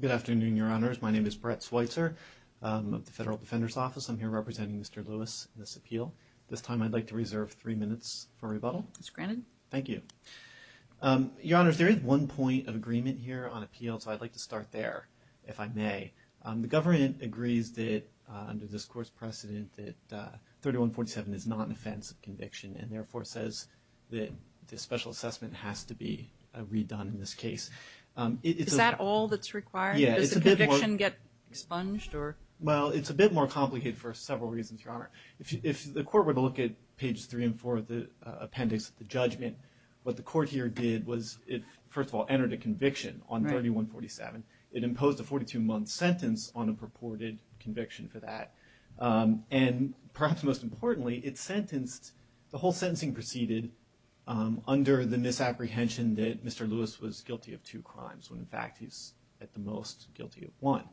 Good afternoon, Your Honors. My name is Brett Schweitzer of the Federal Defender's Office. I'm here representing Mr. Lewis in this appeal. This time I'd like to reserve three minutes for rebuttal. It's granted. Thank you. Your Honors, there is one point of agreement here on appeal, so I'd like to start there, if I may. The government agrees that under this court's precedent that 3147 is not an offense of conviction and therefore says that the special assessment has to be redone in this case. Is that all that's required? Yeah. Does the conviction get expunged? Well, it's a bit more complicated for several reasons, Your Honor. If the court were to look at pages three and four of the appendix of the judgment, what the court here did was it, first of all, entered a conviction on 3147. It imposed a 42-month sentence on a purported conviction for that, and perhaps most importantly, it sentenced, the whole sentencing proceeded under the misapprehension that Mr. Lewis was guilty of two crimes, when in fact he's at the most guilty of one.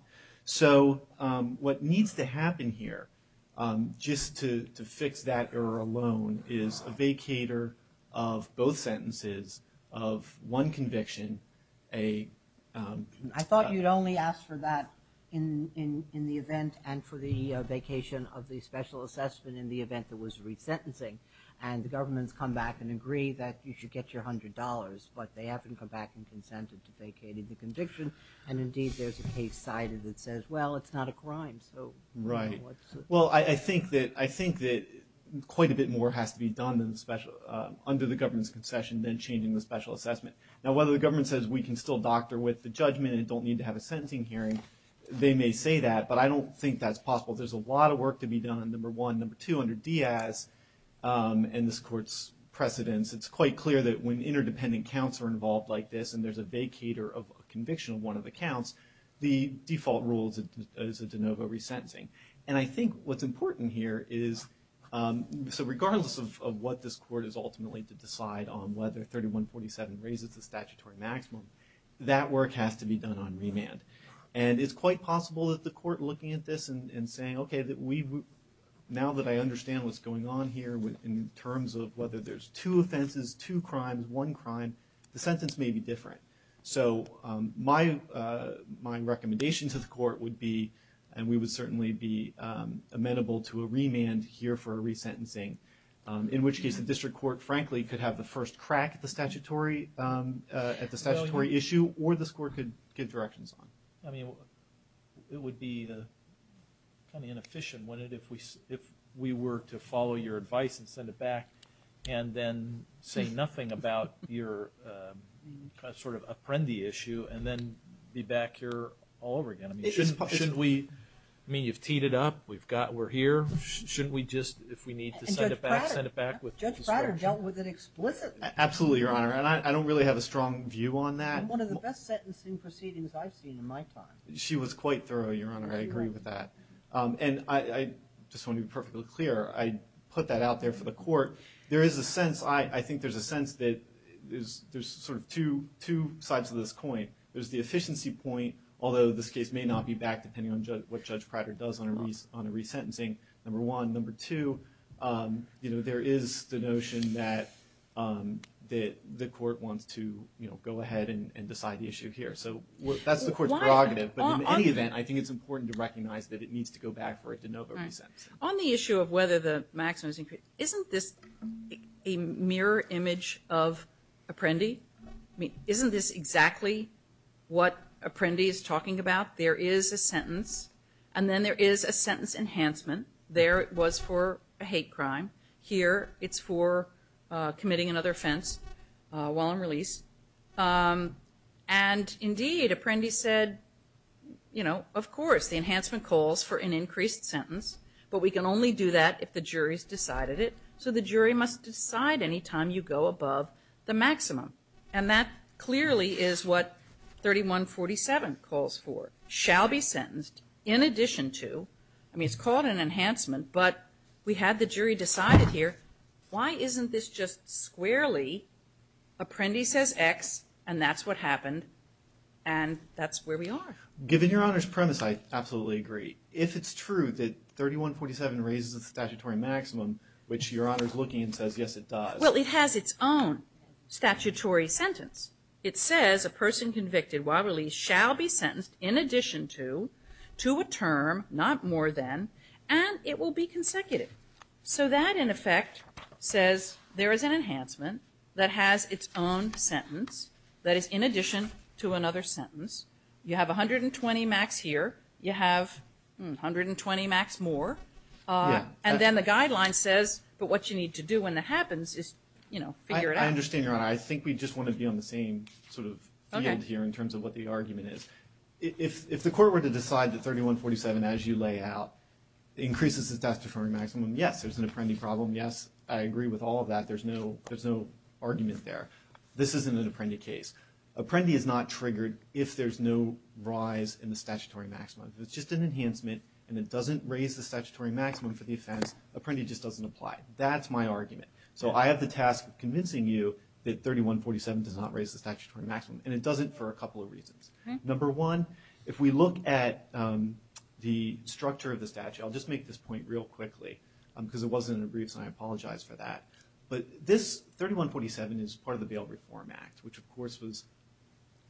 So what needs to happen here, just to fix that error alone, is a vacater of both sentences of one conviction, a... I thought you'd only ask for that in the event and for the vacation of the special assessment in the event there was resentencing, and the government's come back and agree that you should get your $100, but they haven't come back and consented to vacating the conviction, and indeed there's a case cited that says, well, it's not a crime, so... Right. Well, I think that quite a bit more has to be done under the government's concession than changing the special assessment. Now whether the government says we can still doctor with the judgment and don't need to have a sentencing hearing, they may say that, but I don't think that's possible. There's a lot of work to be done, number one. Number two, under Diaz and this court's precedents, it's quite clear that when interdependent counts are involved like this and there's a vacater of a conviction of one of the counts, the default rule is a de novo resentencing. And I think what's important here is, so regardless of what this court is ultimately to decide on whether 3147 raises the statutory maximum, that work has to be done on remand. And it's quite possible that the court looking at this and saying, okay, now that I understand what's going on here in terms of whether there's two offenses, two crimes, one crime, the sentence may be different. So my recommendation to the court would be, and we would certainly be amenable to a remand here for a resentencing, in which case the district court, frankly, could have the first crack at the statutory issue, or this court could give directions on it. I mean, it would be kind of inefficient, wouldn't it, if we were to follow your advice and send it back and then say nothing about your sort of apprendi issue and then be back here all over again. I mean, shouldn't we, I mean, you've teed it up, we've got, we're here, shouldn't we just, if we need to send it back, send it back with discretion? Prater dealt with it explicitly. Absolutely, Your Honor. And I don't really have a strong view on that. And one of the best sentencing proceedings I've seen in my time. She was quite thorough, Your Honor, I agree with that. And I just want to be perfectly clear, I put that out there for the court. There is a sense, I think there's a sense that there's sort of two sides of this coin. There's the efficiency point, although this case may not be backed, depending on what Judge Prater does on a resentencing, number one. Number two, you know, there is the notion that the court wants to, you know, go ahead and decide the issue here. So that's the court's prerogative, but in any event, I think it's important to recognize that it needs to go back for a de novo resent. On the issue of whether the maximum is increased, isn't this a mirror image of apprendi? I mean, isn't this exactly what apprendi is talking about? There is a sentence and then there is a sentence enhancement. There it was for a hate crime. Here it's for committing another offense while on release. And indeed, apprendi said, you know, of course the enhancement calls for an increased sentence, but we can only do that if the jury's decided it. So the jury must decide any time you go above the maximum. And that clearly is what 3147 calls for, shall be sentenced in addition to, I mean it's called for an enhancement, but we had the jury decide it here. Why isn't this just squarely, apprendi says X, and that's what happened, and that's where we are. Given your Honor's premise, I absolutely agree. If it's true that 3147 raises the statutory maximum, which your Honor's looking and says, yes, it does. Well, it has its own statutory sentence. It says a person convicted while released shall be sentenced in addition to, to a term, not more than, and it will be consecutive. So that, in effect, says there is an enhancement that has its own sentence that is in addition to another sentence. You have 120 max here, you have 120 max more, and then the guideline says, but what you need to do when that happens is, you know, figure it out. I understand your Honor. I think we just want to be on the same sort of field here in terms of what the argument is. If, if the court were to decide that 3147, as you lay out, increases the statutory maximum, yes, there's an apprendi problem, yes, I agree with all of that. There's no, there's no argument there. This isn't an apprendi case. Apprendi is not triggered if there's no rise in the statutory maximum. If it's just an enhancement and it doesn't raise the statutory maximum for the offense, apprendi just doesn't apply. That's my argument. So I have the task of convincing you that 3147 does not raise the statutory maximum, and it doesn't for a couple of reasons. Okay. Number one, if we look at the structure of the statute, I'll just make this point real quickly because it wasn't in a brief, so I apologize for that. But this 3147 is part of the Bail Reform Act, which of course was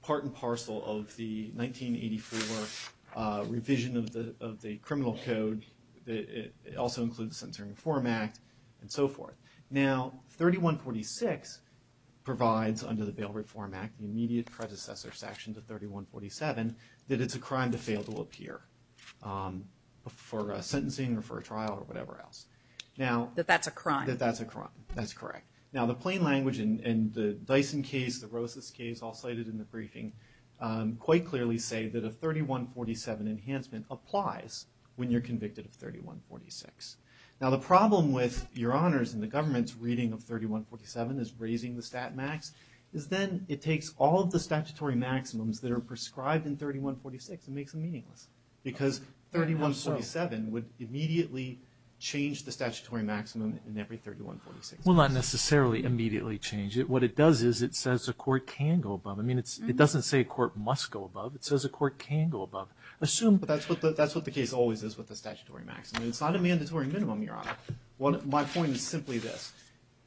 part and parcel of the 1984 revision of the, of the criminal code that also includes the Centering Reform Act and so forth. Now, 3146 provides under the Bail Reform Act, the immediate predecessor section to 3147, that it's a crime to fail to appear for sentencing or for a trial or whatever else. Now- That that's a crime. That that's a crime. That's correct. Now the plain language in the Dyson case, the Rosas case, all cited in the briefing, quite clearly say that a 3147 enhancement applies when you're convicted of 3146. Now the problem with your honors and the government's reading of 3147 as raising the stat max, is then it takes all of the statutory maximums that are prescribed in 3146 and makes them meaningless. Because 3147 would immediately change the statutory maximum in every 3146. Well, not necessarily immediately change it. What it does is it says a court can go above. I mean, it's, it doesn't say a court must go above. It says a court can go above. Assume- But that's what the, that's what the case always is with the statutory maximum. I mean, it's not a mandatory minimum, your honor. My point is simply this.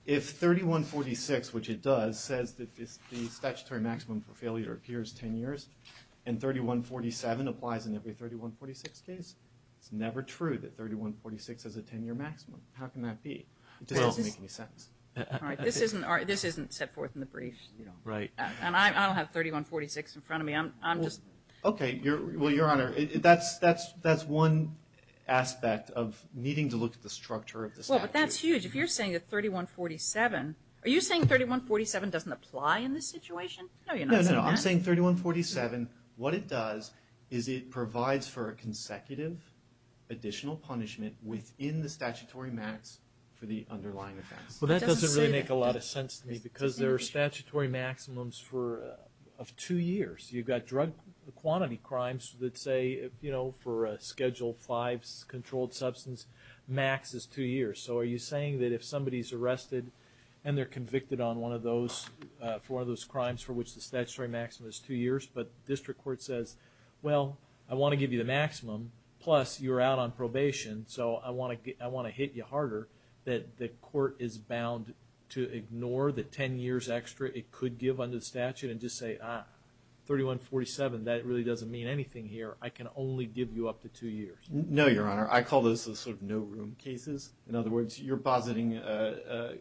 If 3146, which it does, says that the statutory maximum for failure appears 10 years, and 3147 applies in every 3146 case, it's never true that 3146 has a 10-year maximum. How can that be? It just doesn't make any sense. All right. This isn't, this isn't set forth in the brief, you know. Right. And I don't have 3146 in front of me. I'm just- Okay. Your, well, your honor, that's, that's, that's one aspect of needing to look at the structure of the statute. Well, but that's huge. If you're saying that 3147, are you saying 3147 doesn't apply in this situation? No, you're not saying that. No, no, no. I'm saying 3147, what it does is it provides for a consecutive additional punishment within the statutory max for the underlying offense. Well, that doesn't really make a lot of sense to me because there are statutory maximums for, of two years. You've got drug quantity crimes that say, you know, for a Schedule 5 controlled substance, max is two years. So, are you saying that if somebody's arrested and they're convicted on one of those, for one of those crimes for which the statutory maximum is two years, but district court says, well, I want to give you the maximum, plus you're out on probation, so I want to, I want to hit you harder, that the court is bound to ignore the 10 years extra it could give under the statute and just say, ah, 3147, that really doesn't mean anything here. I can only give you up to two years. No, Your Honor. I call those the sort of no room cases. In other words, you're positing a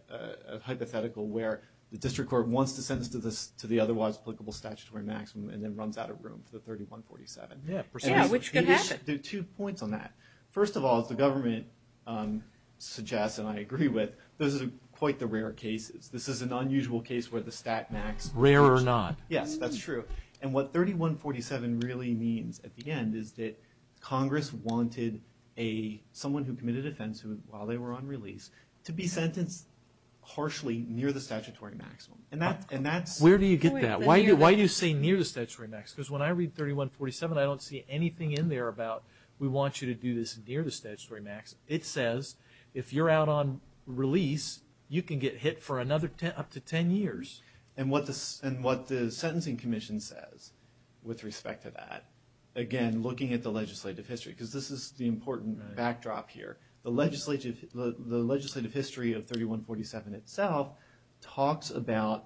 hypothetical where the district court wants to send us to the otherwise applicable statutory maximum and then runs out of room for the 3147. Yeah, which could happen. There are two points on that. First of all, as the government suggests and I agree with, those are quite the rare cases. This is an unusual case where the stat max. Rare or not. Yes, that's true. And what 3147 really means at the end is that Congress wanted a, someone who committed offense while they were on release, to be sentenced harshly near the statutory maximum. And that's. Where do you get that? Why do you say near the statutory max? Because when I read 3147, I don't see anything in there about, we want you to do this near the statutory max. It says, if you're out on release, you can get hit for another 10, up to 10 years. And what the sentencing commission says with respect to that, again, looking at the legislative history, because this is the important backdrop here. The legislative history of 3147 itself talks about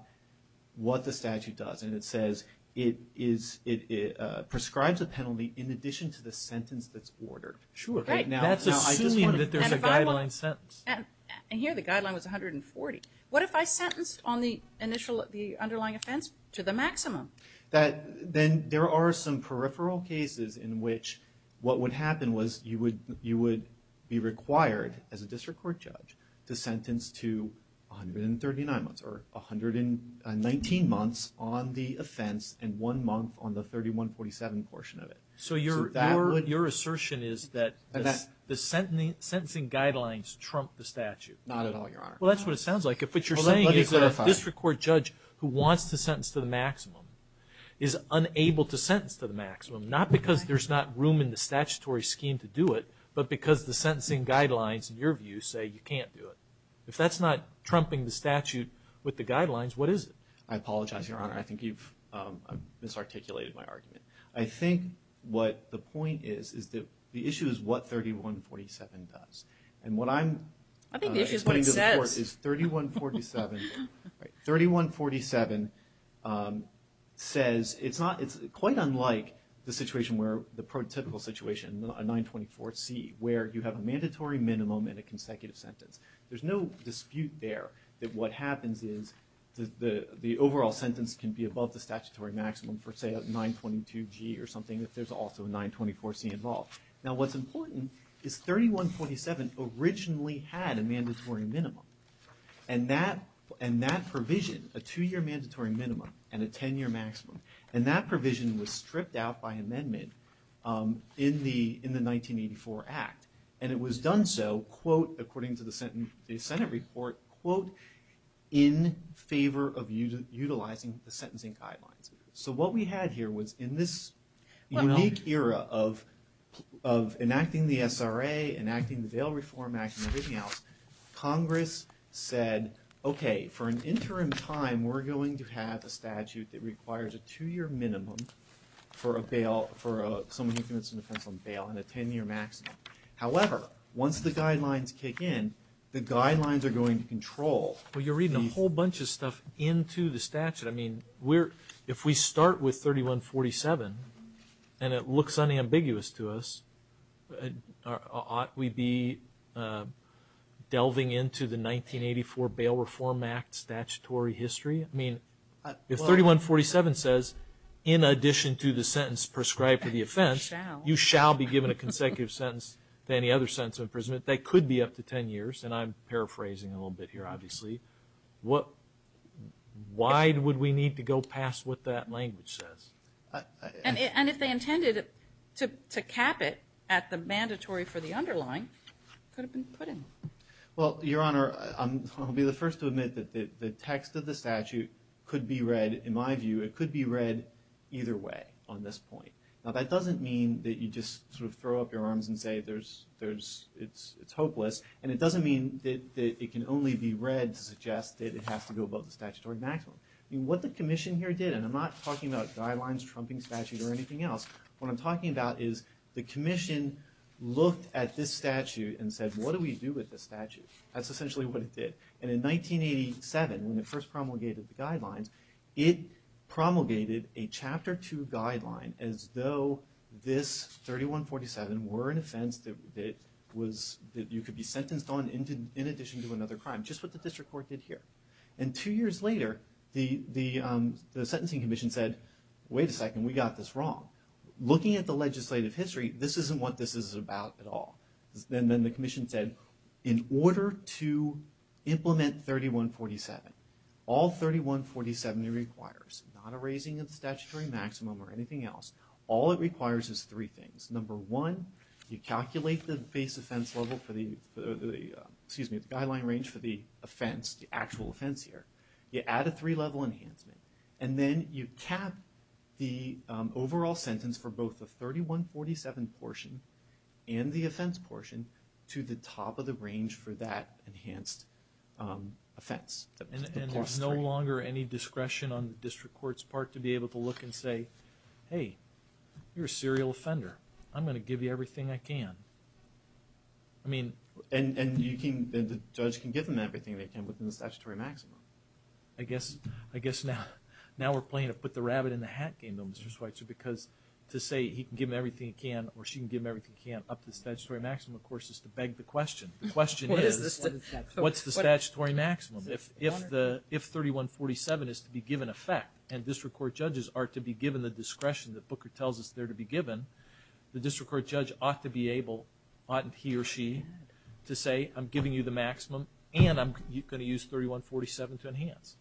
what the statute does and it says it is, it prescribes a penalty in addition to the sentence that's ordered. Sure. That's assuming that there's a guideline sentence. And here the guideline was 140. What if I sentenced on the initial, the underlying offense to the maximum? That then there are some peripheral cases in which what would happen was you would, you would be required as a district court judge to sentence to 139 months or 119 months on the offense and one month on the 3147 portion of it. So your, your assertion is that the sentencing guidelines trump the statute? Not at all, Your Honor. Well, that's what it sounds like. If what you're saying is that a district court judge who wants to sentence to the maximum is unable to sentence to the maximum, not because there's not room in the statutory scheme to do it, but because the sentencing guidelines in your view say you can't do it. If that's not trumping the statute with the guidelines, what is it? I apologize, Your Honor. I think you've misarticulated my argument. I think what the point is, is that the issue is what 3147 does. And what I'm putting to the court is 3147, 3147 says it's not, it's quite unlike the situation where the prototypical situation, a 924C, where you have a mandatory minimum and a consecutive sentence. There's no dispute there that what happens is the overall sentence can be above the statutory maximum for, say, a 922G or something, if there's also a 924C involved. Now what's important is 3147 originally had a mandatory minimum. And that provision, a two-year mandatory minimum and a 10-year maximum, and that provision was stripped out by amendment in the 1984 Act. And it was done so, quote, according to the Senate report, quote, in favor of utilizing the sentencing guidelines. So what we had here was, in this unique era of enacting the SRA, enacting the Bail Reform Act and everything else, Congress said, okay, for an interim time, we're going to have a statute that requires a two-year minimum for a bail, for someone who commits an offense on bail, and a 10-year maximum. However, once the guidelines kick in, the guidelines are going to control these. So if we put a whole bunch of stuff into the statute, I mean, if we start with 3147 and it looks unambiguous to us, ought we be delving into the 1984 Bail Reform Act statutory history? I mean, if 3147 says, in addition to the sentence prescribed for the offense, you shall be given a consecutive sentence than any other sentence of imprisonment, that could be up to 10 years, and I'm paraphrasing a little bit here, obviously. Why would we need to go past what that language says? And if they intended to cap it at the mandatory for the underlying, it could have been put in. Well, Your Honor, I'll be the first to admit that the text of the statute could be read, in my view, it could be read either way on this point. Now, that doesn't mean that you just sort of throw up your arms and say it's hopeless, and it doesn't mean that it can only be read to suggest that it has to go above the statutory maximum. I mean, what the Commission here did, and I'm not talking about guidelines, trumping statute, or anything else, what I'm talking about is the Commission looked at this statute and said, what do we do with this statute? That's essentially what it did. And in 1987, when it first promulgated the guidelines, it promulgated a Chapter 2 guideline as though this 3147 were an offense that you could be sentenced on in addition to another crime, just what the District Court did here. And two years later, the Sentencing Commission said, wait a second, we got this wrong. Looking at the legislative history, this isn't what this is about at all. And then the Commission said, in order to implement 3147, all 3147 requires not a raising of the statutory maximum or anything else. All it requires is three things. Number one, you calculate the baseline range for the offense, the actual offense here. You add a three-level enhancement. And then you cap the overall sentence for both the 3147 portion and the offense portion to the top of the range for that enhanced offense, the plus three. No longer any discretion on the District Court's part to be able to look and say, hey, you're a serial offender, I'm going to give you everything I can. I mean... And the judge can give them everything they can within the statutory maximum. I guess now we're playing a put-the-rabbit-in-the-hat game, though, Mr. Schweitzer, because to say he can give them everything he can or she can give them everything he can up to the statutory maximum, of course, is to beg the question. The question is, what's the statutory maximum? If 3147 is to be given effect and District Court judges are to be given the discretion that Booker tells us they're to be given, the District Court judge ought to be able, ought he or she, to say, I'm giving you the maximum and I'm going to use 3147 to enhance.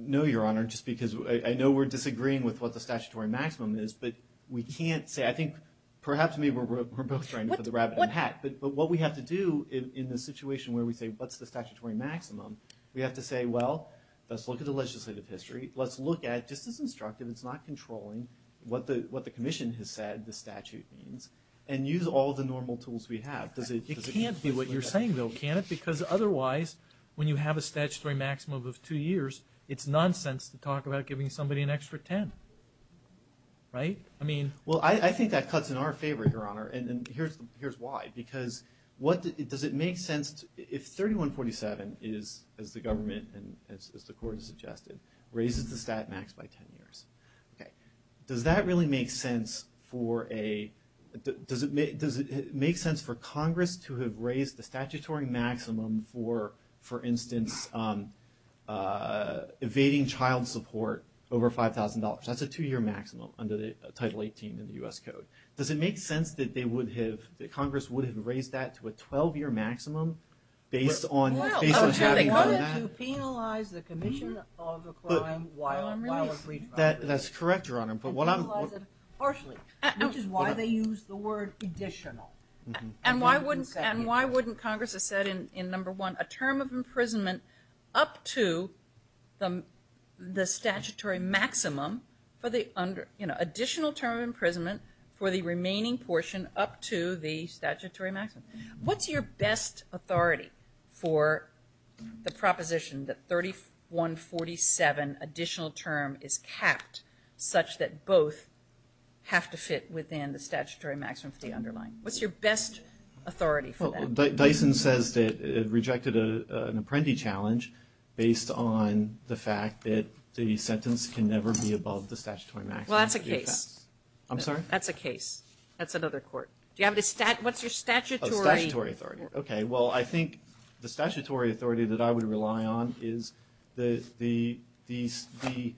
No, Your Honor, just because I know we're disagreeing with what the statutory maximum is, but we can't say. I think perhaps maybe we're both trying to put the rabbit in the hat, but what we have to do in the situation where we say, what's the statutory maximum? We have to say, well, let's look at the legislative history. Let's look at, just as instructive, it's not controlling, what the Commission has said the statute means, and use all the normal tools we have. Does it... It can't be what you're saying, though, can it? Because otherwise, when you have a statutory maximum of two years, it's nonsense to talk about giving somebody an extra 10. Right? I mean... Well, I think that cuts in our favor, Your Honor, and here's why. Because what... Does it make sense if 3147 is, as the government and as the Court has suggested, raises the stat max by 10 years? Does that really make sense for a... Does it make sense for Congress to have raised the statutory maximum for, for instance, evading child support over $5,000? That's a two-year maximum under the Title 18 in the U.S. Code. Does it make sense that they would have, that Congress would have raised that to a 12-year maximum based on having done that? Well, I'm sure they wanted to penalize the Commission of the crime while on release. That's correct, Your Honor, but what I'm... And penalize it partially, which is why they used the word additional. And why wouldn't, and why wouldn't Congress have said in, in number one, a term of imprisonment up to the, the statutory maximum for the under, you know, additional term of imprisonment for the remaining portion up to the statutory maximum? What's your best authority for the proposition that 3147 additional term is capped such that both have to fit within the statutory maximum for the underlying? What's your best authority for that? Well, Dyson says that it rejected an apprentice challenge based on the fact that the sentence can never be above the statutory maximum. Well, that's a case. I'm sorry? That's a case. That's another court. Do you have a stat, what's your statutory... Oh, statutory authority. Okay. Well, I think the statutory authority that I would rely on is the, the, the, the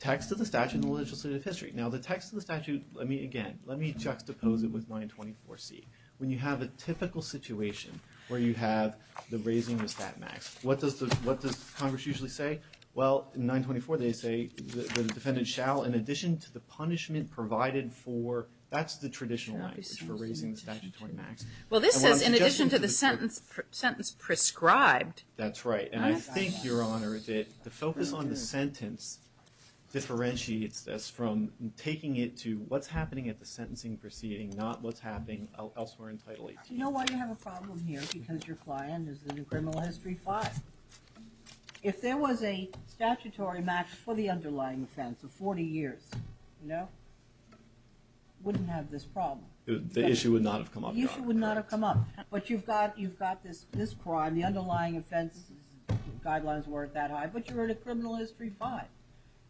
text of the statute in the legislative history. Now, the text of the statute, let me, again, let me juxtapose it with 924C. When you have a typical situation where you have the raising the stat max, what does the, what does Congress usually say? Well, in 924 they say the defendant shall, in addition to the punishment provided for, that's the traditional language for raising the statutory max. Well, this says in addition to the sentence, sentence prescribed. That's right. And I think, Your Honor, that the focus on the sentence differentiates us from taking it to what's happening at the sentencing proceeding, not what's happening elsewhere in Title 18. Do you know why you have a problem here? Because your client is in a criminal history 5. If there was a statutory max for the underlying offense of 40 years, you know, wouldn't have this problem. The issue would not have come up, Your Honor. The issue would not have come up. But you've got, you've got this, this crime, the underlying offense guidelines weren't that high, but you're in a criminal history 5.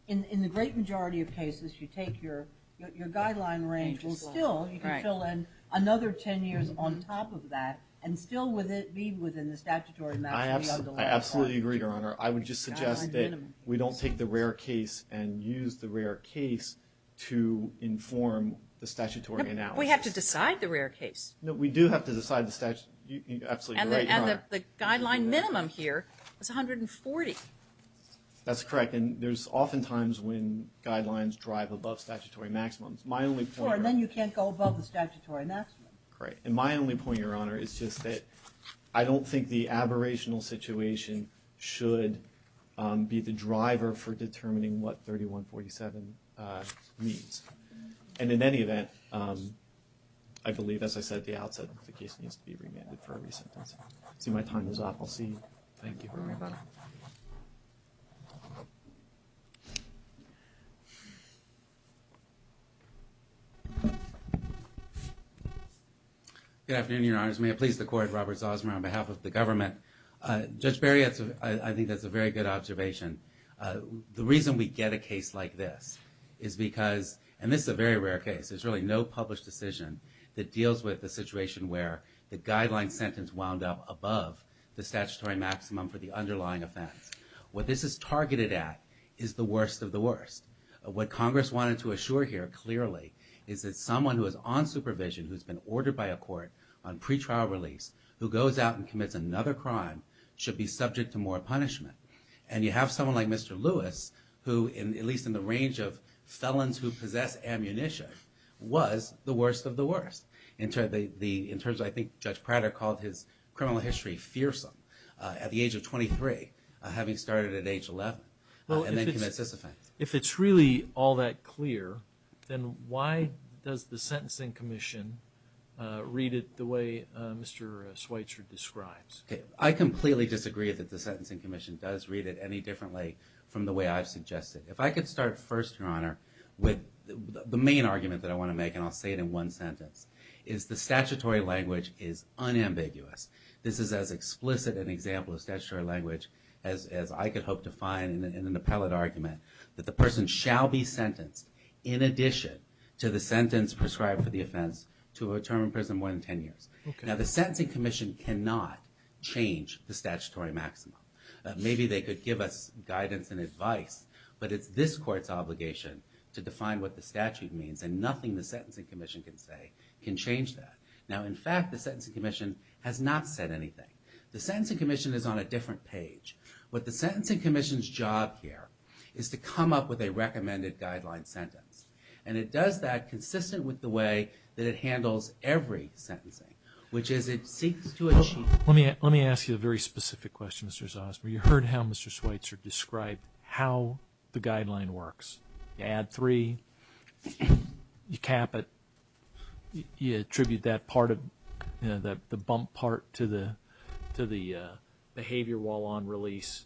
In the great majority of cases, you take your, your guideline range, still you can fill in another 10 years on top of that and still with it, be within the statutory max of the underlying offense. I absolutely agree, Your Honor. I would just suggest that we don't take the rare case and use the rare case to inform the statutory analysis. We have to decide the rare case. We do have to decide the statute, you're absolutely right, Your Honor. And the guideline minimum here is 140. That's correct. And there's often times when guidelines drive above statutory maximums. My only point, Your Honor. Sure, then you can't go above the statutory maximum. Great. And my only point, Your Honor, is just that I don't think the aberrational situation should be the driver for determining what 3147 means. And in any event, I believe, as I said at the outset, the case needs to be remanded for a re-sentence. See, my time is up. I'll see you. Thank you for reminding me. Thank you, Your Honor. Good afternoon, Your Honors. May it please the Court, Robert Zosmer on behalf of the government. Judge Barry, I think that's a very good observation. The reason we get a case like this is because, and this is a very rare case, there's really no published decision that deals with the situation where the guideline sentence wound up above the statutory maximum for the underlying offense. What this is targeted at is the worst of the worst. What Congress wanted to assure here, clearly, is that someone who is on supervision, who's been ordered by a court on pretrial release, who goes out and commits another crime, should be subject to more punishment. And you have someone like Mr. Lewis, who, at least in the range of felons who possess ammunition, was the worst of the worst. In terms of, I think Judge Prater called his criminal history fearsome at the age of 23, having started at age 11, and then commits this offense. If it's really all that clear, then why does the Sentencing Commission read it the way Mr. Schweitzer describes? I completely disagree that the Sentencing Commission does read it any differently from the way I've suggested. If I could start first, Your Honor, with the main argument that I want to make, and I'll The statutory language is unambiguous. This is as explicit an example of statutory language as I could hope to find in an appellate argument that the person shall be sentenced, in addition to the sentence prescribed for the offense, to a term in prison more than 10 years. Now, the Sentencing Commission cannot change the statutory maximum. Maybe they could give us guidance and advice, but it's this Court's obligation to define what the statute means, and nothing the Sentencing Commission can say can change that. Now, in fact, the Sentencing Commission has not said anything. The Sentencing Commission is on a different page. What the Sentencing Commission's job here is to come up with a recommended guideline sentence, and it does that consistent with the way that it handles every sentencing, which is it seeks to achieve Let me ask you a very specific question, Mr. Zosma. You heard how Mr. Schweitzer described how the guideline works. You add three, you cap it, you attribute that part of, you know, the bump part to the behavior while on release,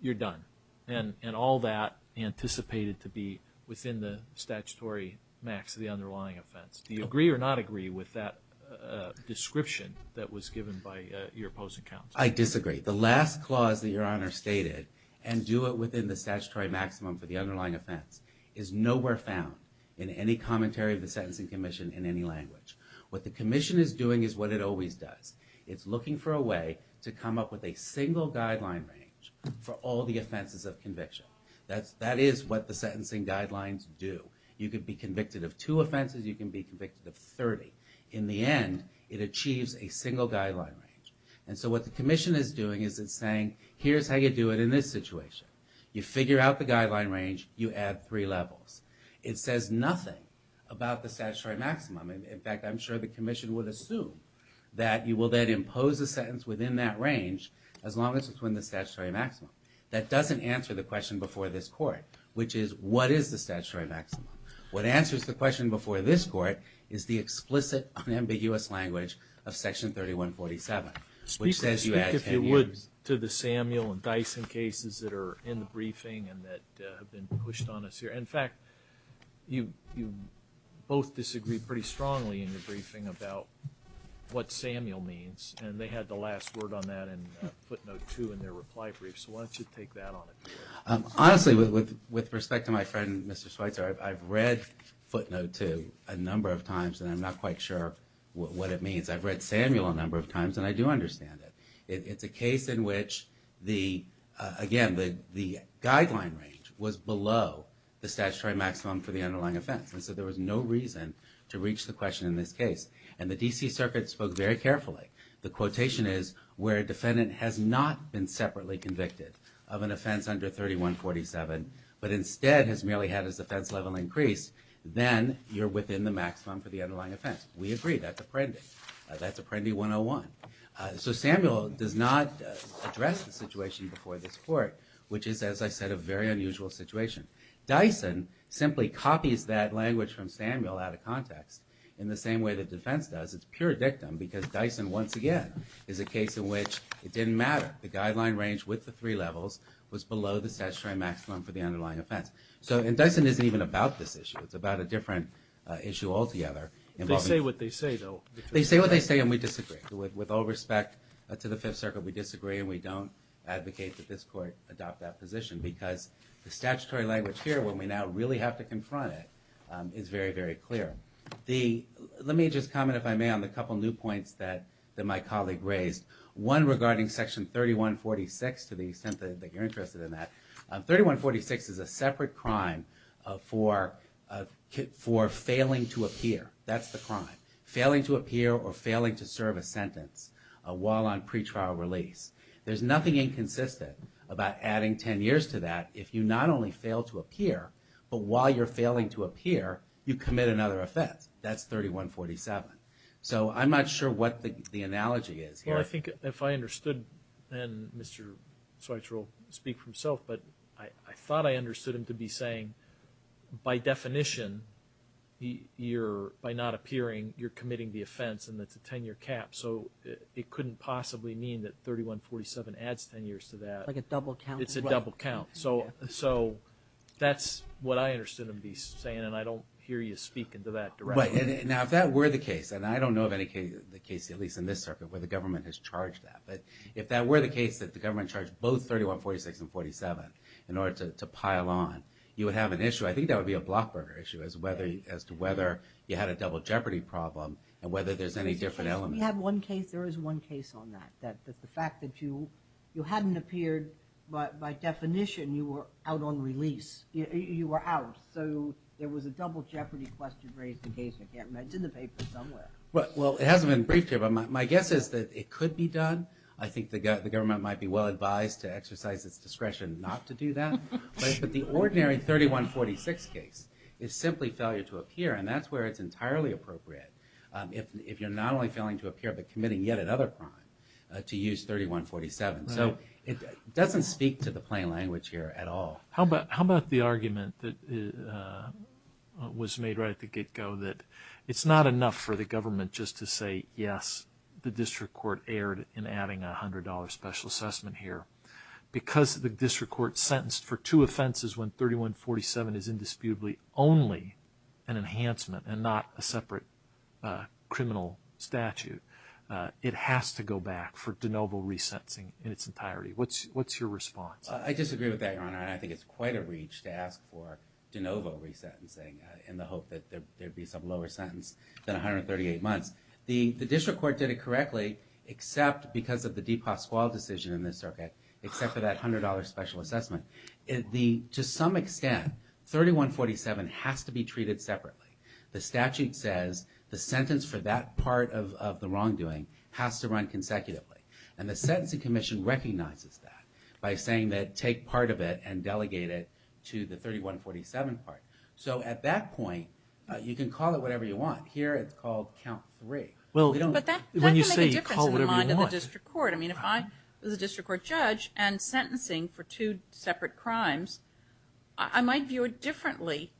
you're done. And all that anticipated to be within the statutory max of the underlying offense. Do you agree or not agree with that description that was given by your opposing counsel? I disagree. The last clause that Your Honor stated, and do it within the statutory maximum for the is nowhere found in any commentary of the Sentencing Commission in any language. What the Commission is doing is what it always does. It's looking for a way to come up with a single guideline range for all the offenses of conviction. That is what the sentencing guidelines do. You could be convicted of two offenses, you can be convicted of 30. In the end, it achieves a single guideline range. And so what the Commission is doing is it's saying, here's how you do it in this situation. You figure out the guideline range, you add three levels. It says nothing about the statutory maximum. In fact, I'm sure the Commission would assume that you will then impose a sentence within that range as long as it's within the statutory maximum. That doesn't answer the question before this court, which is, what is the statutory maximum? What answers the question before this court is the explicit unambiguous language of Section 3147. Speak if you would to the Samuel and Dyson cases that are in the briefing and that have been pushed on us here. In fact, you both disagreed pretty strongly in the briefing about what Samuel means, and they had the last word on that in footnote two in their reply brief. So why don't you take that on it? Honestly, with respect to my friend Mr. Schweitzer, I've read footnote two a number of times and I'm not quite sure what it means. I've read Samuel a number of times and I do understand it. It's a case in which, again, the guideline range was below the statutory maximum for the underlying offense. And so there was no reason to reach the question in this case. And the D.C. Circuit spoke very carefully. The quotation is, where a defendant has not been separately convicted of an offense under 3147, but instead has merely had his offense level increased, then you're within the maximum for the underlying offense. We agree. That's Apprendi. That's Apprendi 101. So Samuel does not address the situation before this court, which is, as I said, a very unusual situation. Dyson simply copies that language from Samuel out of context in the same way the defense does. It's pure dictum because Dyson, once again, is a case in which it didn't matter. The guideline range with the three levels was below the statutory maximum for the underlying offense. So – and Dyson isn't even about this issue. It's about a different issue altogether involving – They say what they say, though. They say what they say, and we disagree. With all respect to the Fifth Circuit, we disagree and we don't advocate that this court adopt that position because the statutory language here, when we now really have to confront it, is very, very clear. Let me just comment, if I may, on a couple new points that my colleague raised, one regarding Section 3146, to the extent that you're interested in that. 3146 is a separate crime for failing to appear. That's the crime. Failing to appear or failing to serve a sentence while on pretrial release. There's nothing inconsistent about adding 10 years to that if you not only fail to appear, but while you're failing to appear, you commit another offense. That's 3147. So I'm not sure what the analogy is here. Well, I think if I understood, then Mr. Schweitzer will speak for himself, but I thought I understood him to be saying, by definition, you're, by not appearing, you're committing the offense and that's a 10-year cap. So it couldn't possibly mean that 3147 adds 10 years to that. Like a double count? It's a double count. So that's what I understood him to be saying, and I don't hear you speak into that directly. Right. Now, if that were the case, and I don't know of any case, at least in this circuit, where the government has charged that, but if that were the case, that the government charged both 3146 and 3147 in order to pile on, you would have an issue. I think that would be a block burger issue as to whether you had a double jeopardy problem and whether there's any different element. We have one case. There is one case on that, that the fact that you hadn't appeared, but by definition, you were out on release. You were out. So there was a double jeopardy question raised in case, I can't remember, it's in the paper somewhere. Well, it hasn't been briefed here, but my guess is that it could be done. I think the government might be well advised to exercise its discretion not to do that. But the ordinary 3146 case is simply failure to appear, and that's where it's entirely appropriate if you're not only failing to appear, but committing yet another crime to use 3147. Right. So it doesn't speak to the plain language here at all. How about the argument that was made right at the get-go that it's not enough for the having a $100 special assessment here? Because the district court sentenced for two offenses when 3147 is indisputably only an enhancement and not a separate criminal statute, it has to go back for de novo resentencing in its entirety. What's your response? I disagree with that, Your Honor, and I think it's quite a reach to ask for de novo resentencing in the hope that there'd be some lower sentence than 138 months. The district court did it correctly, except because of the DePasquale decision in this circuit, except for that $100 special assessment. To some extent, 3147 has to be treated separately. The statute says the sentence for that part of the wrongdoing has to run consecutively, and the Sentencing Commission recognizes that by saying that take part of it and delegate it to the 3147 part. So at that point, you can call it whatever you want. Here it's called count three. But that can make a difference in the mind of the district court. I mean, if I was a district court judge and sentencing for two separate crimes, I might view it differently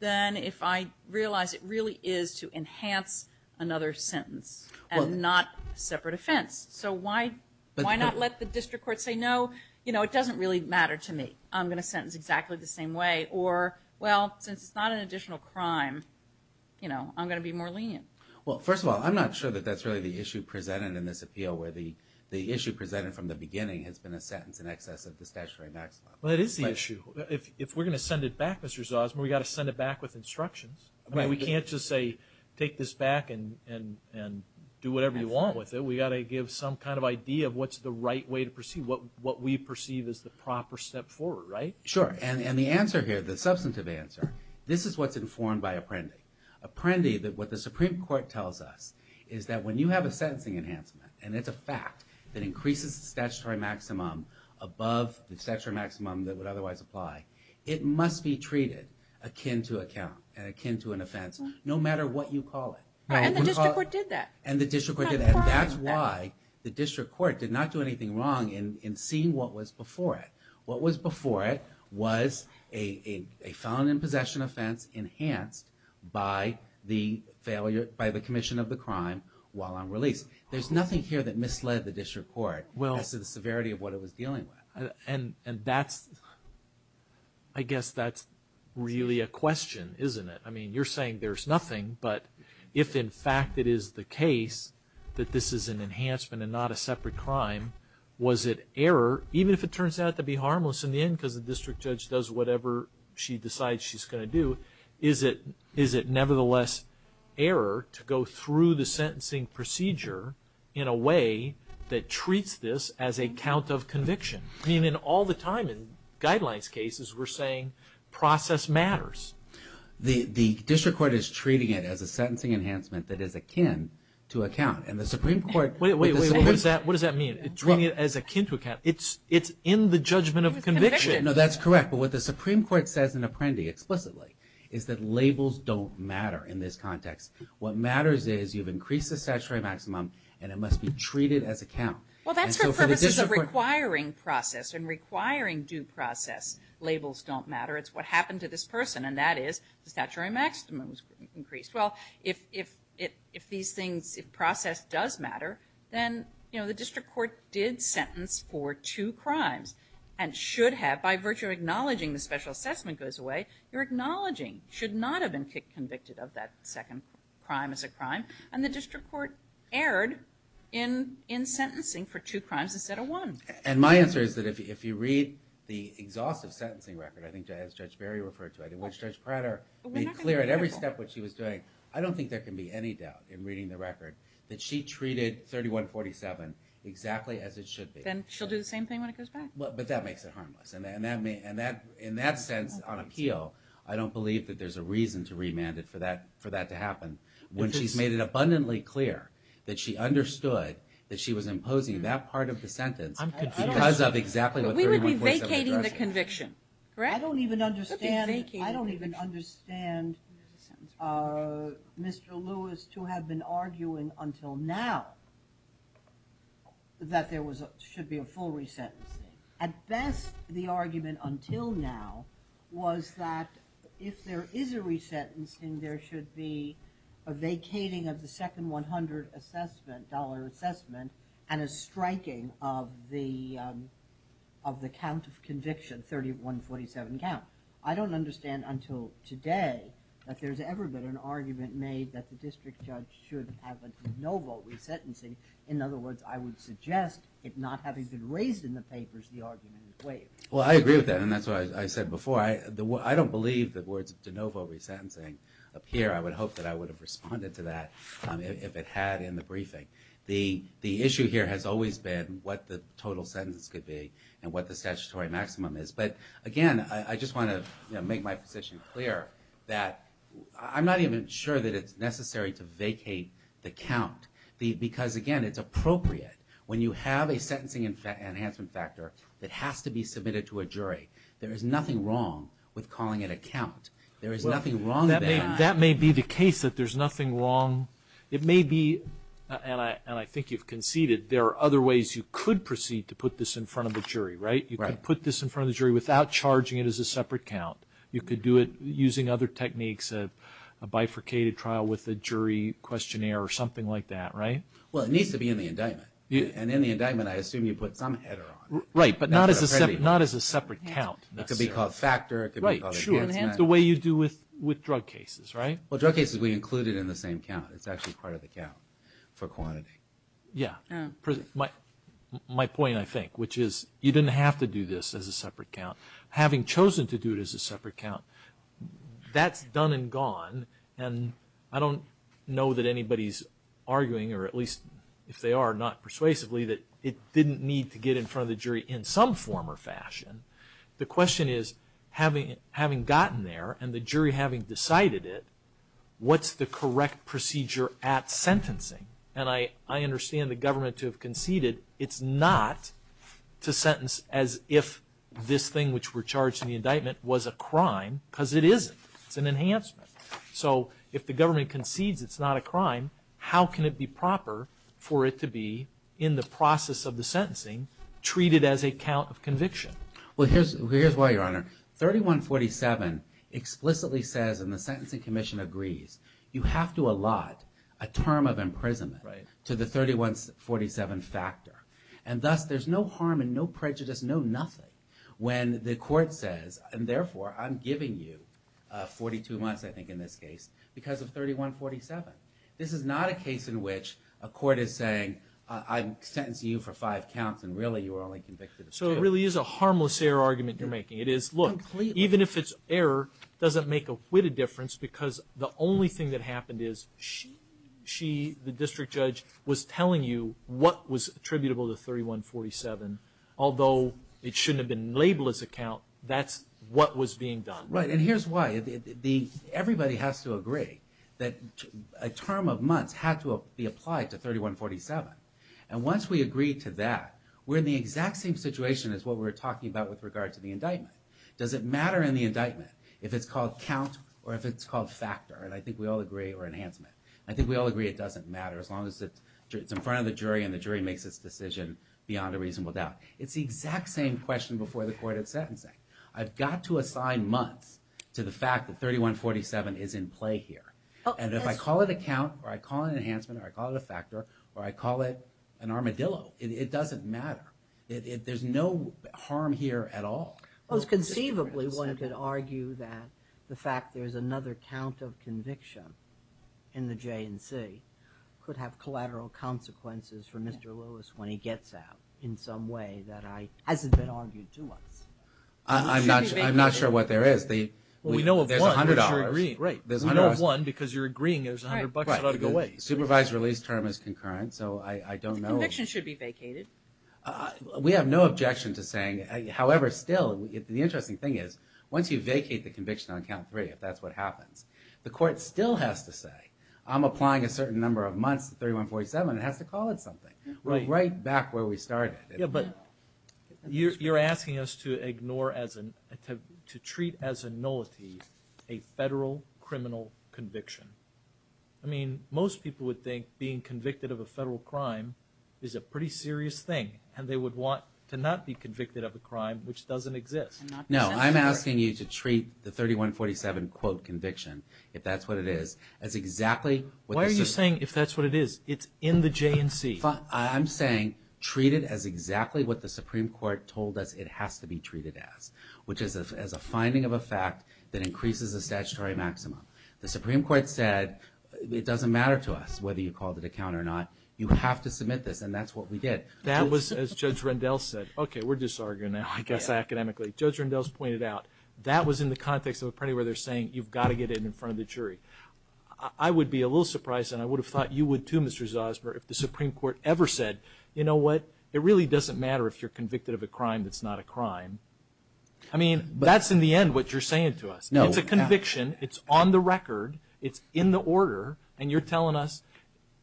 than if I realize it really is to enhance another sentence and not a separate offense. So why not let the district court say, no, it doesn't really matter to me. I'm going to sentence exactly the same way, or, well, since it's not an additional crime, I'm going to be more lenient. Well, first of all, I'm not sure that that's really the issue presented in this appeal, where the issue presented from the beginning has been a sentence in excess of the statutory maximum. Well, it is the issue. If we're going to send it back, Mr. Zosima, we've got to send it back with instructions. We can't just say, take this back and do whatever you want with it. We've got to give some kind of idea of what's the right way to proceed, what we perceive is the proper step forward, right? Sure. And the answer here, the substantive answer, this is what's informed by Apprendi. Apprendi, what the Supreme Court tells us, is that when you have a sentencing enhancement, and it's a fact that increases the statutory maximum above the statutory maximum that would otherwise apply, it must be treated akin to account and akin to an offense, no matter what you call it. Right. And the district court did that. And the district court did that. And that's why the district court did not do anything wrong in seeing what was before it. What was before it was a felon in possession offense enhanced by the failure, by the commission of the crime while on release. There's nothing here that misled the district court as to the severity of what it was dealing with. And that's, I guess that's really a question, isn't it? I mean, you're saying there's nothing, but if in fact it is the case that this is an the district judge does whatever she decides she's going to do, is it nevertheless error to go through the sentencing procedure in a way that treats this as a count of conviction? I mean, in all the time in guidelines cases, we're saying process matters. The district court is treating it as a sentencing enhancement that is akin to account. And the Supreme Court... Wait, wait, wait. It's treating it as akin to account. It's in the judgment of conviction. It's conviction. No, that's correct. But what the Supreme Court says in Apprendi explicitly is that labels don't matter in this context. What matters is you've increased the statutory maximum and it must be treated as a count. Well, that's for purposes of requiring process and requiring due process. Labels don't matter. It's what happened to this person. And that is the statutory maximum was increased. Well, if these things, if process does matter, then the district court did sentence for two crimes and should have, by virtue of acknowledging the special assessment goes away, you're acknowledging should not have been convicted of that second crime as a crime. And the district court erred in sentencing for two crimes instead of one. And my answer is that if you read the exhaustive sentencing record, I think as Judge Berry referred to it and what Judge Prater made clear at every step of what she was doing, I don't think there can be any doubt in reading the record that she treated 3147 exactly as it should be. Then she'll do the same thing when it goes back? But that makes it harmless. In that sense, on appeal, I don't believe that there's a reason to remand it for that to happen when she's made it abundantly clear that she understood that she was imposing that part of the sentence because of exactly what 3147 addressed. We would be vacating the conviction. Correct? I don't even understand Mr. Lewis to have been arguing until now that there should be a full re-sentencing. At best, the argument until now was that if there is a re-sentencing, there should be a vacating of the second $100 assessment and a striking of the count of conviction, 3147 count. I don't understand until today that there's ever been an argument made that the district judge should have a de novo re-sentencing. In other words, I would suggest it not having been raised in the papers, the argument is waived. Well, I agree with that and that's what I said before. I don't believe the words de novo re-sentencing appear. I would hope that I would have responded to that if it had in the briefing. The issue here has always been what the total sentence could be and what the statutory maximum is. But again, I just want to make my position clear that I'm not even sure that it's necessary to vacate the count because again, it's appropriate when you have a sentencing enhancement factor that has to be submitted to a jury. There is nothing wrong with calling it a count. There is nothing wrong with that. That may be the case that there's nothing wrong. It may be, and I think you've conceded, there are other ways you could proceed to put this in front of a jury. Right? You could put this in front of the jury without charging it as a separate count. You could do it using other techniques, a bifurcated trial with a jury questionnaire or something like that, right? Well, it needs to be in the indictment. And in the indictment, I assume you put some header on it. Right, but not as a separate count. It could be called a factor, it could be called an enhancement. Right, sure. The way you do with drug cases, right? Well, drug cases, we include it in the same count. It's actually part of the count for quantity. Yeah. My point, I think, which is you didn't have to do this as a separate count. Having chosen to do it as a separate count, that's done and gone, and I don't know that anybody's arguing, or at least if they are, not persuasively, that it didn't need to get in front of the jury in some form or fashion. The question is, having gotten there and the jury having decided it, what's the correct procedure at sentencing? And I understand the government to have conceded it's not to sentence as if this thing which were charged in the indictment was a crime, because it isn't. It's an enhancement. So if the government concedes it's not a crime, how can it be proper for it to be, in the process of the sentencing, treated as a count of conviction? Well, here's why, Your Honor. 3147 explicitly says, and the Sentencing Commission agrees, you have to allot a term of imprisonment to the 3147 factor. And thus there's no harm and no prejudice, no nothing, when the court says, and therefore I'm giving you 42 months, I think in this case, because of 3147. This is not a case in which a court is saying, I'm sentencing you for five counts and really you are only convicted of two. So it really is a harmless error argument you're making. It is, look, even if it's error, it doesn't make a witted difference because the only thing that happened is she, the district judge, was telling you what was attributable to 3147. Although it shouldn't have been labeled as a count, that's what was being done. Right, and here's why. Everybody has to agree that a term of months had to be applied to 3147. And once we agree to that, we're in the exact same situation as what we were talking about with regard to the indictment. Does it matter in the indictment if it's called count or if it's called factor? And I think we all agree, or enhancement. I think we all agree it doesn't matter as long as it's in front of the jury and the jury makes its decision beyond a reasonable doubt. It's the exact same question before the court of sentencing. I've got to assign months to the fact that 3147 is in play here. And if I call it a count or I call it an enhancement or I call it a factor or I call it an armadillo, it doesn't matter. There's no harm here at all. Most conceivably, one could argue that the fact there's another count of conviction in the J&C could have collateral consequences for Mr. Lewis when he gets out in some way that hasn't been argued to us. I'm not sure what there is. We know of one because you're agreeing there's a hundred bucks that ought to go away. Supervised release term is concurrent, so I don't know. Conviction should be vacated. We have no objection to saying, however still, the interesting thing is once you vacate the conviction on count three, if that's what happens, the court still has to say, I'm applying a certain number of months to 3147, it has to call it something. Right back where we started. You're asking us to ignore, to treat as a nullity, a federal criminal conviction. I mean, most people would think being convicted of a federal crime is a pretty serious thing and they would want to not be convicted of a crime which doesn't exist. No, I'm asking you to treat the 3147 quote conviction, if that's what it is, as exactly Why are you saying if that's what it is? It's in the J&C. I'm saying treat it as exactly what the Supreme Court told us it has to be treated as, which is as a finding of a fact that increases the statutory maxima. The Supreme Court said it doesn't matter to us whether you call it a count or not. You have to submit this and that's what we did. That was, as Judge Rendell said, okay, we're disarguing now, I guess, academically. Judge Rendell's pointed out that was in the context of a pretty where they're saying you've got to get it in front of the jury. I would be a little surprised and I would have thought you would too, Mr. Zosmer, if the Supreme Court ever said, you know what, it really doesn't matter if you're convicted of a crime that's not a crime. I mean, that's in the end what you're saying to us. It's a conviction, it's on the record, it's in the order, and you're telling us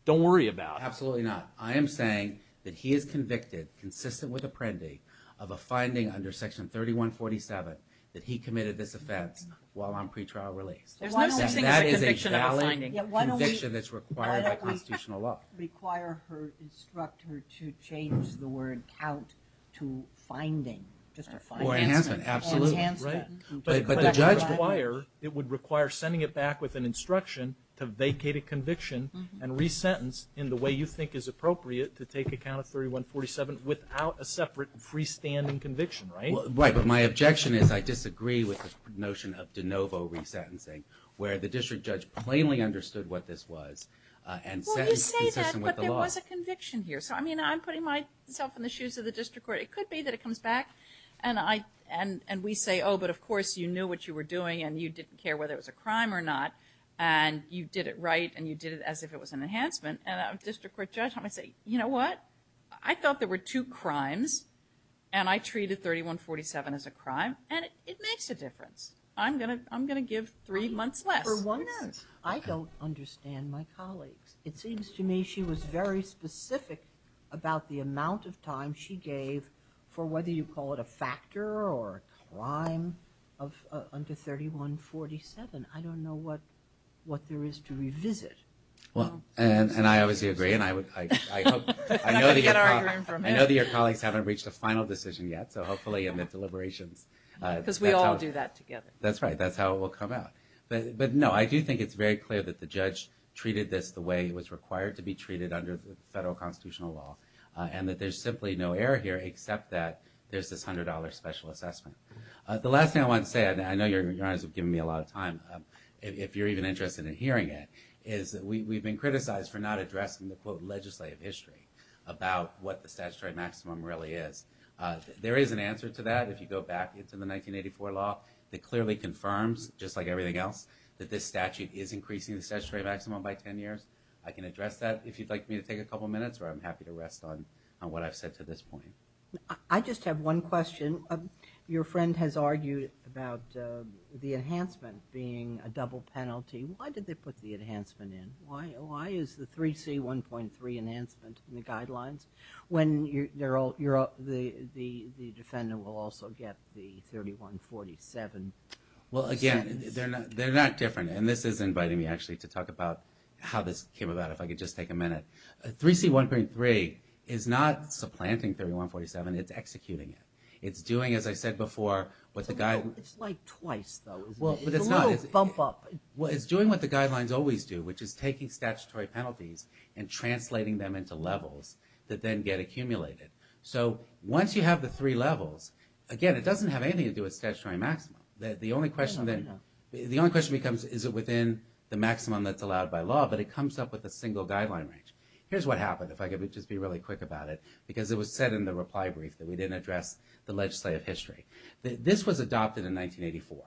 don't worry about it. Absolutely not. I am saying that he is convicted, consistent with Apprendi, of a finding under section 3147 that he committed this offense while on pretrial release. There's no such thing as a conviction of a finding. That is a valid conviction that's required by constitutional law. Why don't we require her, instruct her to change the word count to finding, just a finding. Or enhancement, absolutely. Enhancement. But the judge would require, it would require sending it back with an instruction to vacate a conviction and re-sentence in the way you think is appropriate to take account of 3147 without a separate freestanding conviction, right? Right, but my objection is I disagree with the notion of de novo re-sentencing, where the district judge plainly understood what this was and sentenced consistent with the law. Well, you say that, but there was a conviction here. So, I mean, I'm putting myself in the shoes of the district court. It could be that it comes back and we say, oh, but of course you knew what you were doing and you didn't care whether it was a crime or not and you did it right and you did it as if it was an enhancement. And a district court judge might say, you know what? I thought there were two crimes and I treated 3147 as a crime and it makes a difference. I'm going to give three months less. For one, I don't understand my colleagues. It seems to me she was very specific about the amount of time she gave for whether you call it a factor or a crime under 3147. I don't know what there is to revisit. And I obviously agree and I know that your colleagues haven't reached a final decision yet, so hopefully in the deliberations. Because we all do that together. That's right. That's how it will come out. But no, I do think it's very clear that the judge treated this the way it was required to be treated under the federal constitutional law. And that there's simply no error here except that there's this $100 special assessment. The last thing I want to say, I know your honors have given me a lot of time, if you're even interested in hearing it, is that we've been criticized for not addressing the quote legislative history about what the statutory maximum really is. There is an answer to that if you go back into the 1984 law that clearly confirms, just like everything else, that this statute is increasing the statutory maximum by 10 years. I can address that if you'd like me to take a couple minutes or I'm happy to rest on what I've said to this point. I just have one question. Your friend has argued about the enhancement being a double penalty. Why did they put the enhancement in? Why is the 3C 1.3 enhancement in the guidelines when the defendant will also get the 3147 sentence? Well, again, they're not different. And this is inviting me, actually, to talk about how this came about, if I could just take a minute. 3C 1.3 is not supplanting 3147, it's executing it. It's doing, as I said before, what the guidelines... It's like twice, though. It's a little bump up. But it's not. It's doing what the guidelines always do, which is taking statutory penalties and translating them into levels that then get accumulated. So once you have the three levels, again, it doesn't have anything to do with statutory maximum. The only question becomes, is it within the maximum that's allowed by law, but it comes up with a single guideline range. Here's what happened, if I could just be really quick about it, because it was said in the reply brief that we didn't address the legislative history. This was adopted in 1984,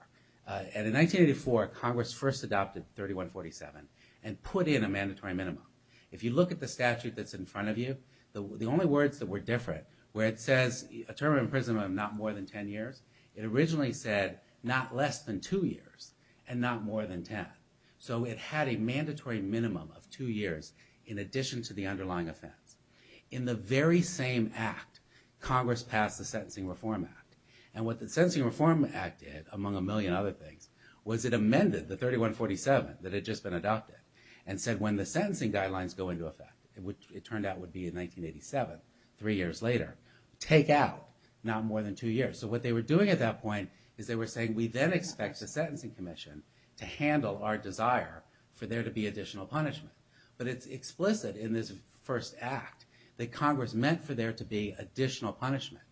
and in 1984, Congress first adopted 3147 and put in a mandatory minimum. If you look at the statute that's in front of you, the only words that were different, where it says a term of imprisonment of not more than 10 years, it originally said not less than two years, and not more than 10. So it had a mandatory minimum of two years in addition to the underlying offense. In the very same act, Congress passed the Sentencing Reform Act. And what the Sentencing Reform Act did, among a million other things, was it amended the 3147 that had just been adopted, and said when the sentencing guidelines go into effect, it turned out would be in 1987, three years later, take out not more than two years. So what they were doing at that point is they were saying we then expect the sentencing commission to handle our desire for there to be additional punishment. But it's explicit in this first act that Congress meant for there to be additional punishment.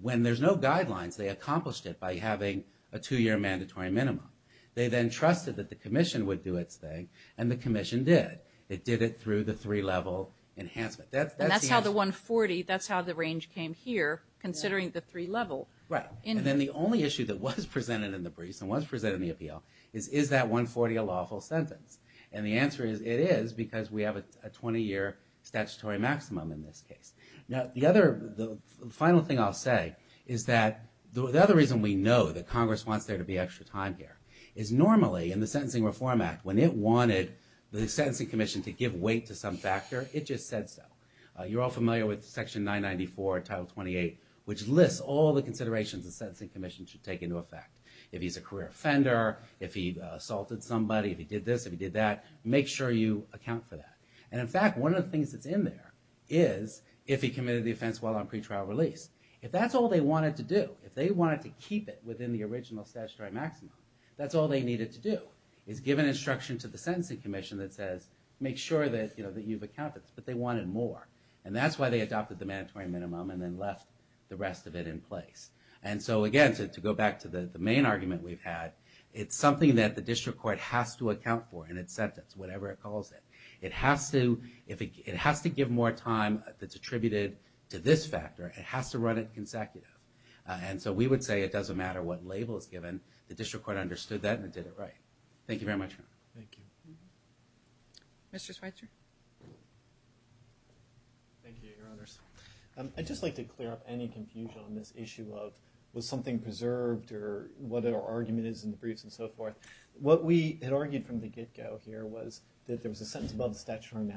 When there's no guidelines, they accomplished it by having a two-year mandatory minimum. They then trusted that the commission would do its thing, and the commission did. It did it through the three-level enhancement. That's the answer. And that's how the 140, that's how the range came here, considering the three-level. Right. And then the only issue that was presented in the briefs, and was presented in the appeal, is is that 140 a lawful sentence? And the answer is it is, because we have a 20-year statutory maximum in this case. Now the other, the final thing I'll say is that the other reason we know that Congress wants there to be extra time here is normally, in the Sentencing Reform Act, when it wanted the sentencing commission to give weight to some factor, it just said so. You're all familiar with Section 994, Title 28, which lists all the considerations the sentencing commission should take into effect. If he's a career offender, if he assaulted somebody, if he did this, if he did that, make sure you account for that. And in fact, one of the things that's in there is if he committed the offense while on pretrial release. If that's all they wanted to do, if they wanted to keep it within the original statutory maximum, that's all they needed to do, is give an instruction to the sentencing commission that says, make sure that you've accounted, but they wanted more. And that's why they adopted the mandatory minimum and then left the rest of it in place. And so again, to go back to the main argument we've had, it's something that the district court has to account for in its sentence, whatever it calls it. It has to, if it has to give more time that's attributed to this factor, it has to run it consecutive. And so we would say it doesn't matter what label is given, the district court understood that and it did it right. Thank you very much. Thank you. Mr. Schweitzer. Thank you, Your Honors. I'd just like to clear up any confusion on this issue of was something preserved or what our argument is in the briefs and so forth. What we had argued from the get-go here was that there was a sentence above the statutory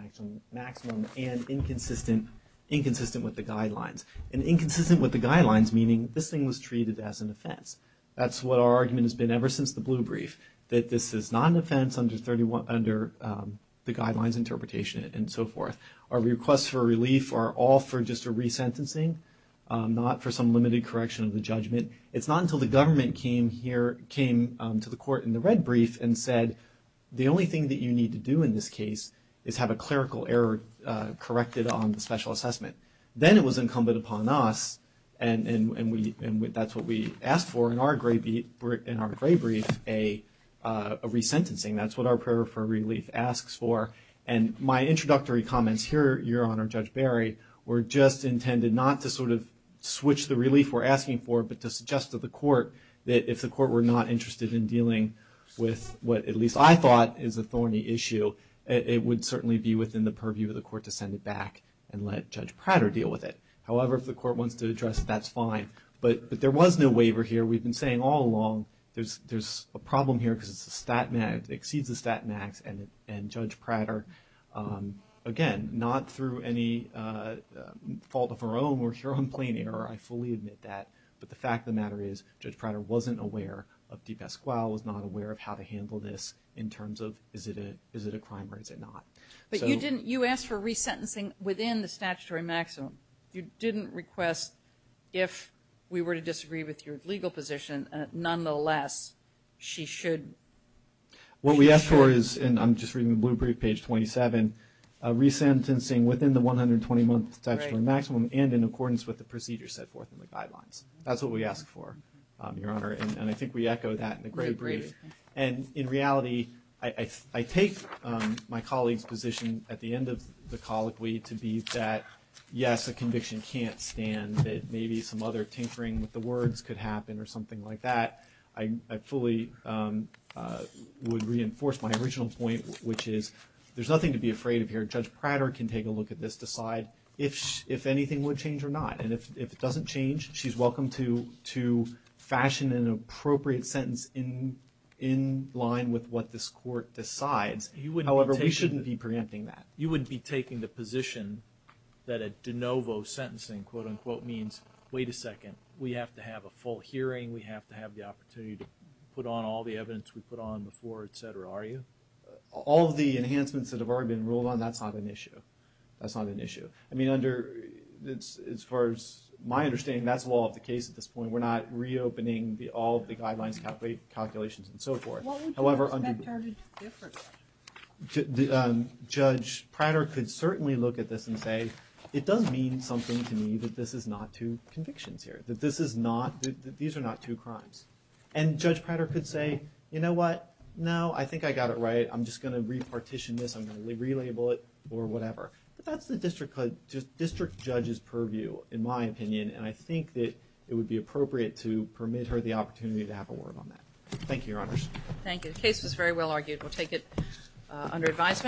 maximum and inconsistent with the guidelines. And inconsistent with the guidelines meaning this thing was treated as an offense. That's what our argument has been ever since the blue brief, that this is not an offense under the guidelines interpretation and so forth. Our requests for relief are all for just a resentencing, not for some limited correction of the judgment. It's not until the government came to the court in the red brief and said, the only thing that you need to do in this case is have a clerical error corrected on the special assessment. Then it was incumbent upon us and that's what we asked for in our gray brief, a resentencing. That's what our prayer for relief asks for. And my introductory comments here, Your Honor, Judge Barry, were just intended not to sort of switch the relief we're asking for but to suggest to the court that if the court were not interested in dealing with what at least I thought is a thorny issue, it would certainly be within the purview of the court to send it back and let Judge Prater deal with it. However, if the court wants to address it, that's fine. But there was no waiver here. We've been saying all along there's a problem here because it exceeds the stat max and Judge Prater, again, not through any fault of our own, we're here on plain error. I fully admit that. But the fact of the matter is Judge Prater wasn't aware of DePasquale, was not aware of how to handle this in terms of is it a crime or is it not. But you didn't, you asked for resentencing within the statutory maximum. You didn't request if we were to disagree with your legal position, nonetheless, she should. What we asked for is, and I'm just reading the blue brief, page 27, resentencing within the 120-month statutory maximum and in accordance with the procedures set forth in the guidelines. That's what we asked for, Your Honor. And I think we echo that in the gray brief. And in reality, I take my colleague's position at the end of the colloquy to be that, yes, a conviction can't stand, that maybe some other tinkering with the words could happen or something like that. I fully would reinforce my original point, which is there's nothing to be afraid of here. Judge Prater can take a look at this, decide if anything would change or not. And if it doesn't change, she's welcome to fashion an appropriate sentence in line with what this court decides. However, we shouldn't be preempting that. You wouldn't be taking the position that a de novo sentencing, quote-unquote, means, wait a second, we have to have a full hearing, we have to have the opportunity to put on all the evidence we put on before, et cetera, are you? All of the enhancements that have already been ruled on, that's not an issue. That's not an issue. I mean, under, as far as my understanding, that's all of the case at this point. We're not reopening all of the guidelines, calculations, and so forth. However, under- What would you expect are the differences? Judge Prater could certainly look at this and say, it does mean something to me that this is not two convictions here, that this is not, that these are not two crimes. And Judge Prater could say, you know what, no, I think I got it right, I'm just going to repartition this, I'm going to relabel it, or whatever. But that's the district judge's purview, in my opinion, and I think that it would be appropriate to permit her the opportunity to have a word on that. Thank you, Your Honors. Thank you. The case was very well argued. We'll take it under advisement.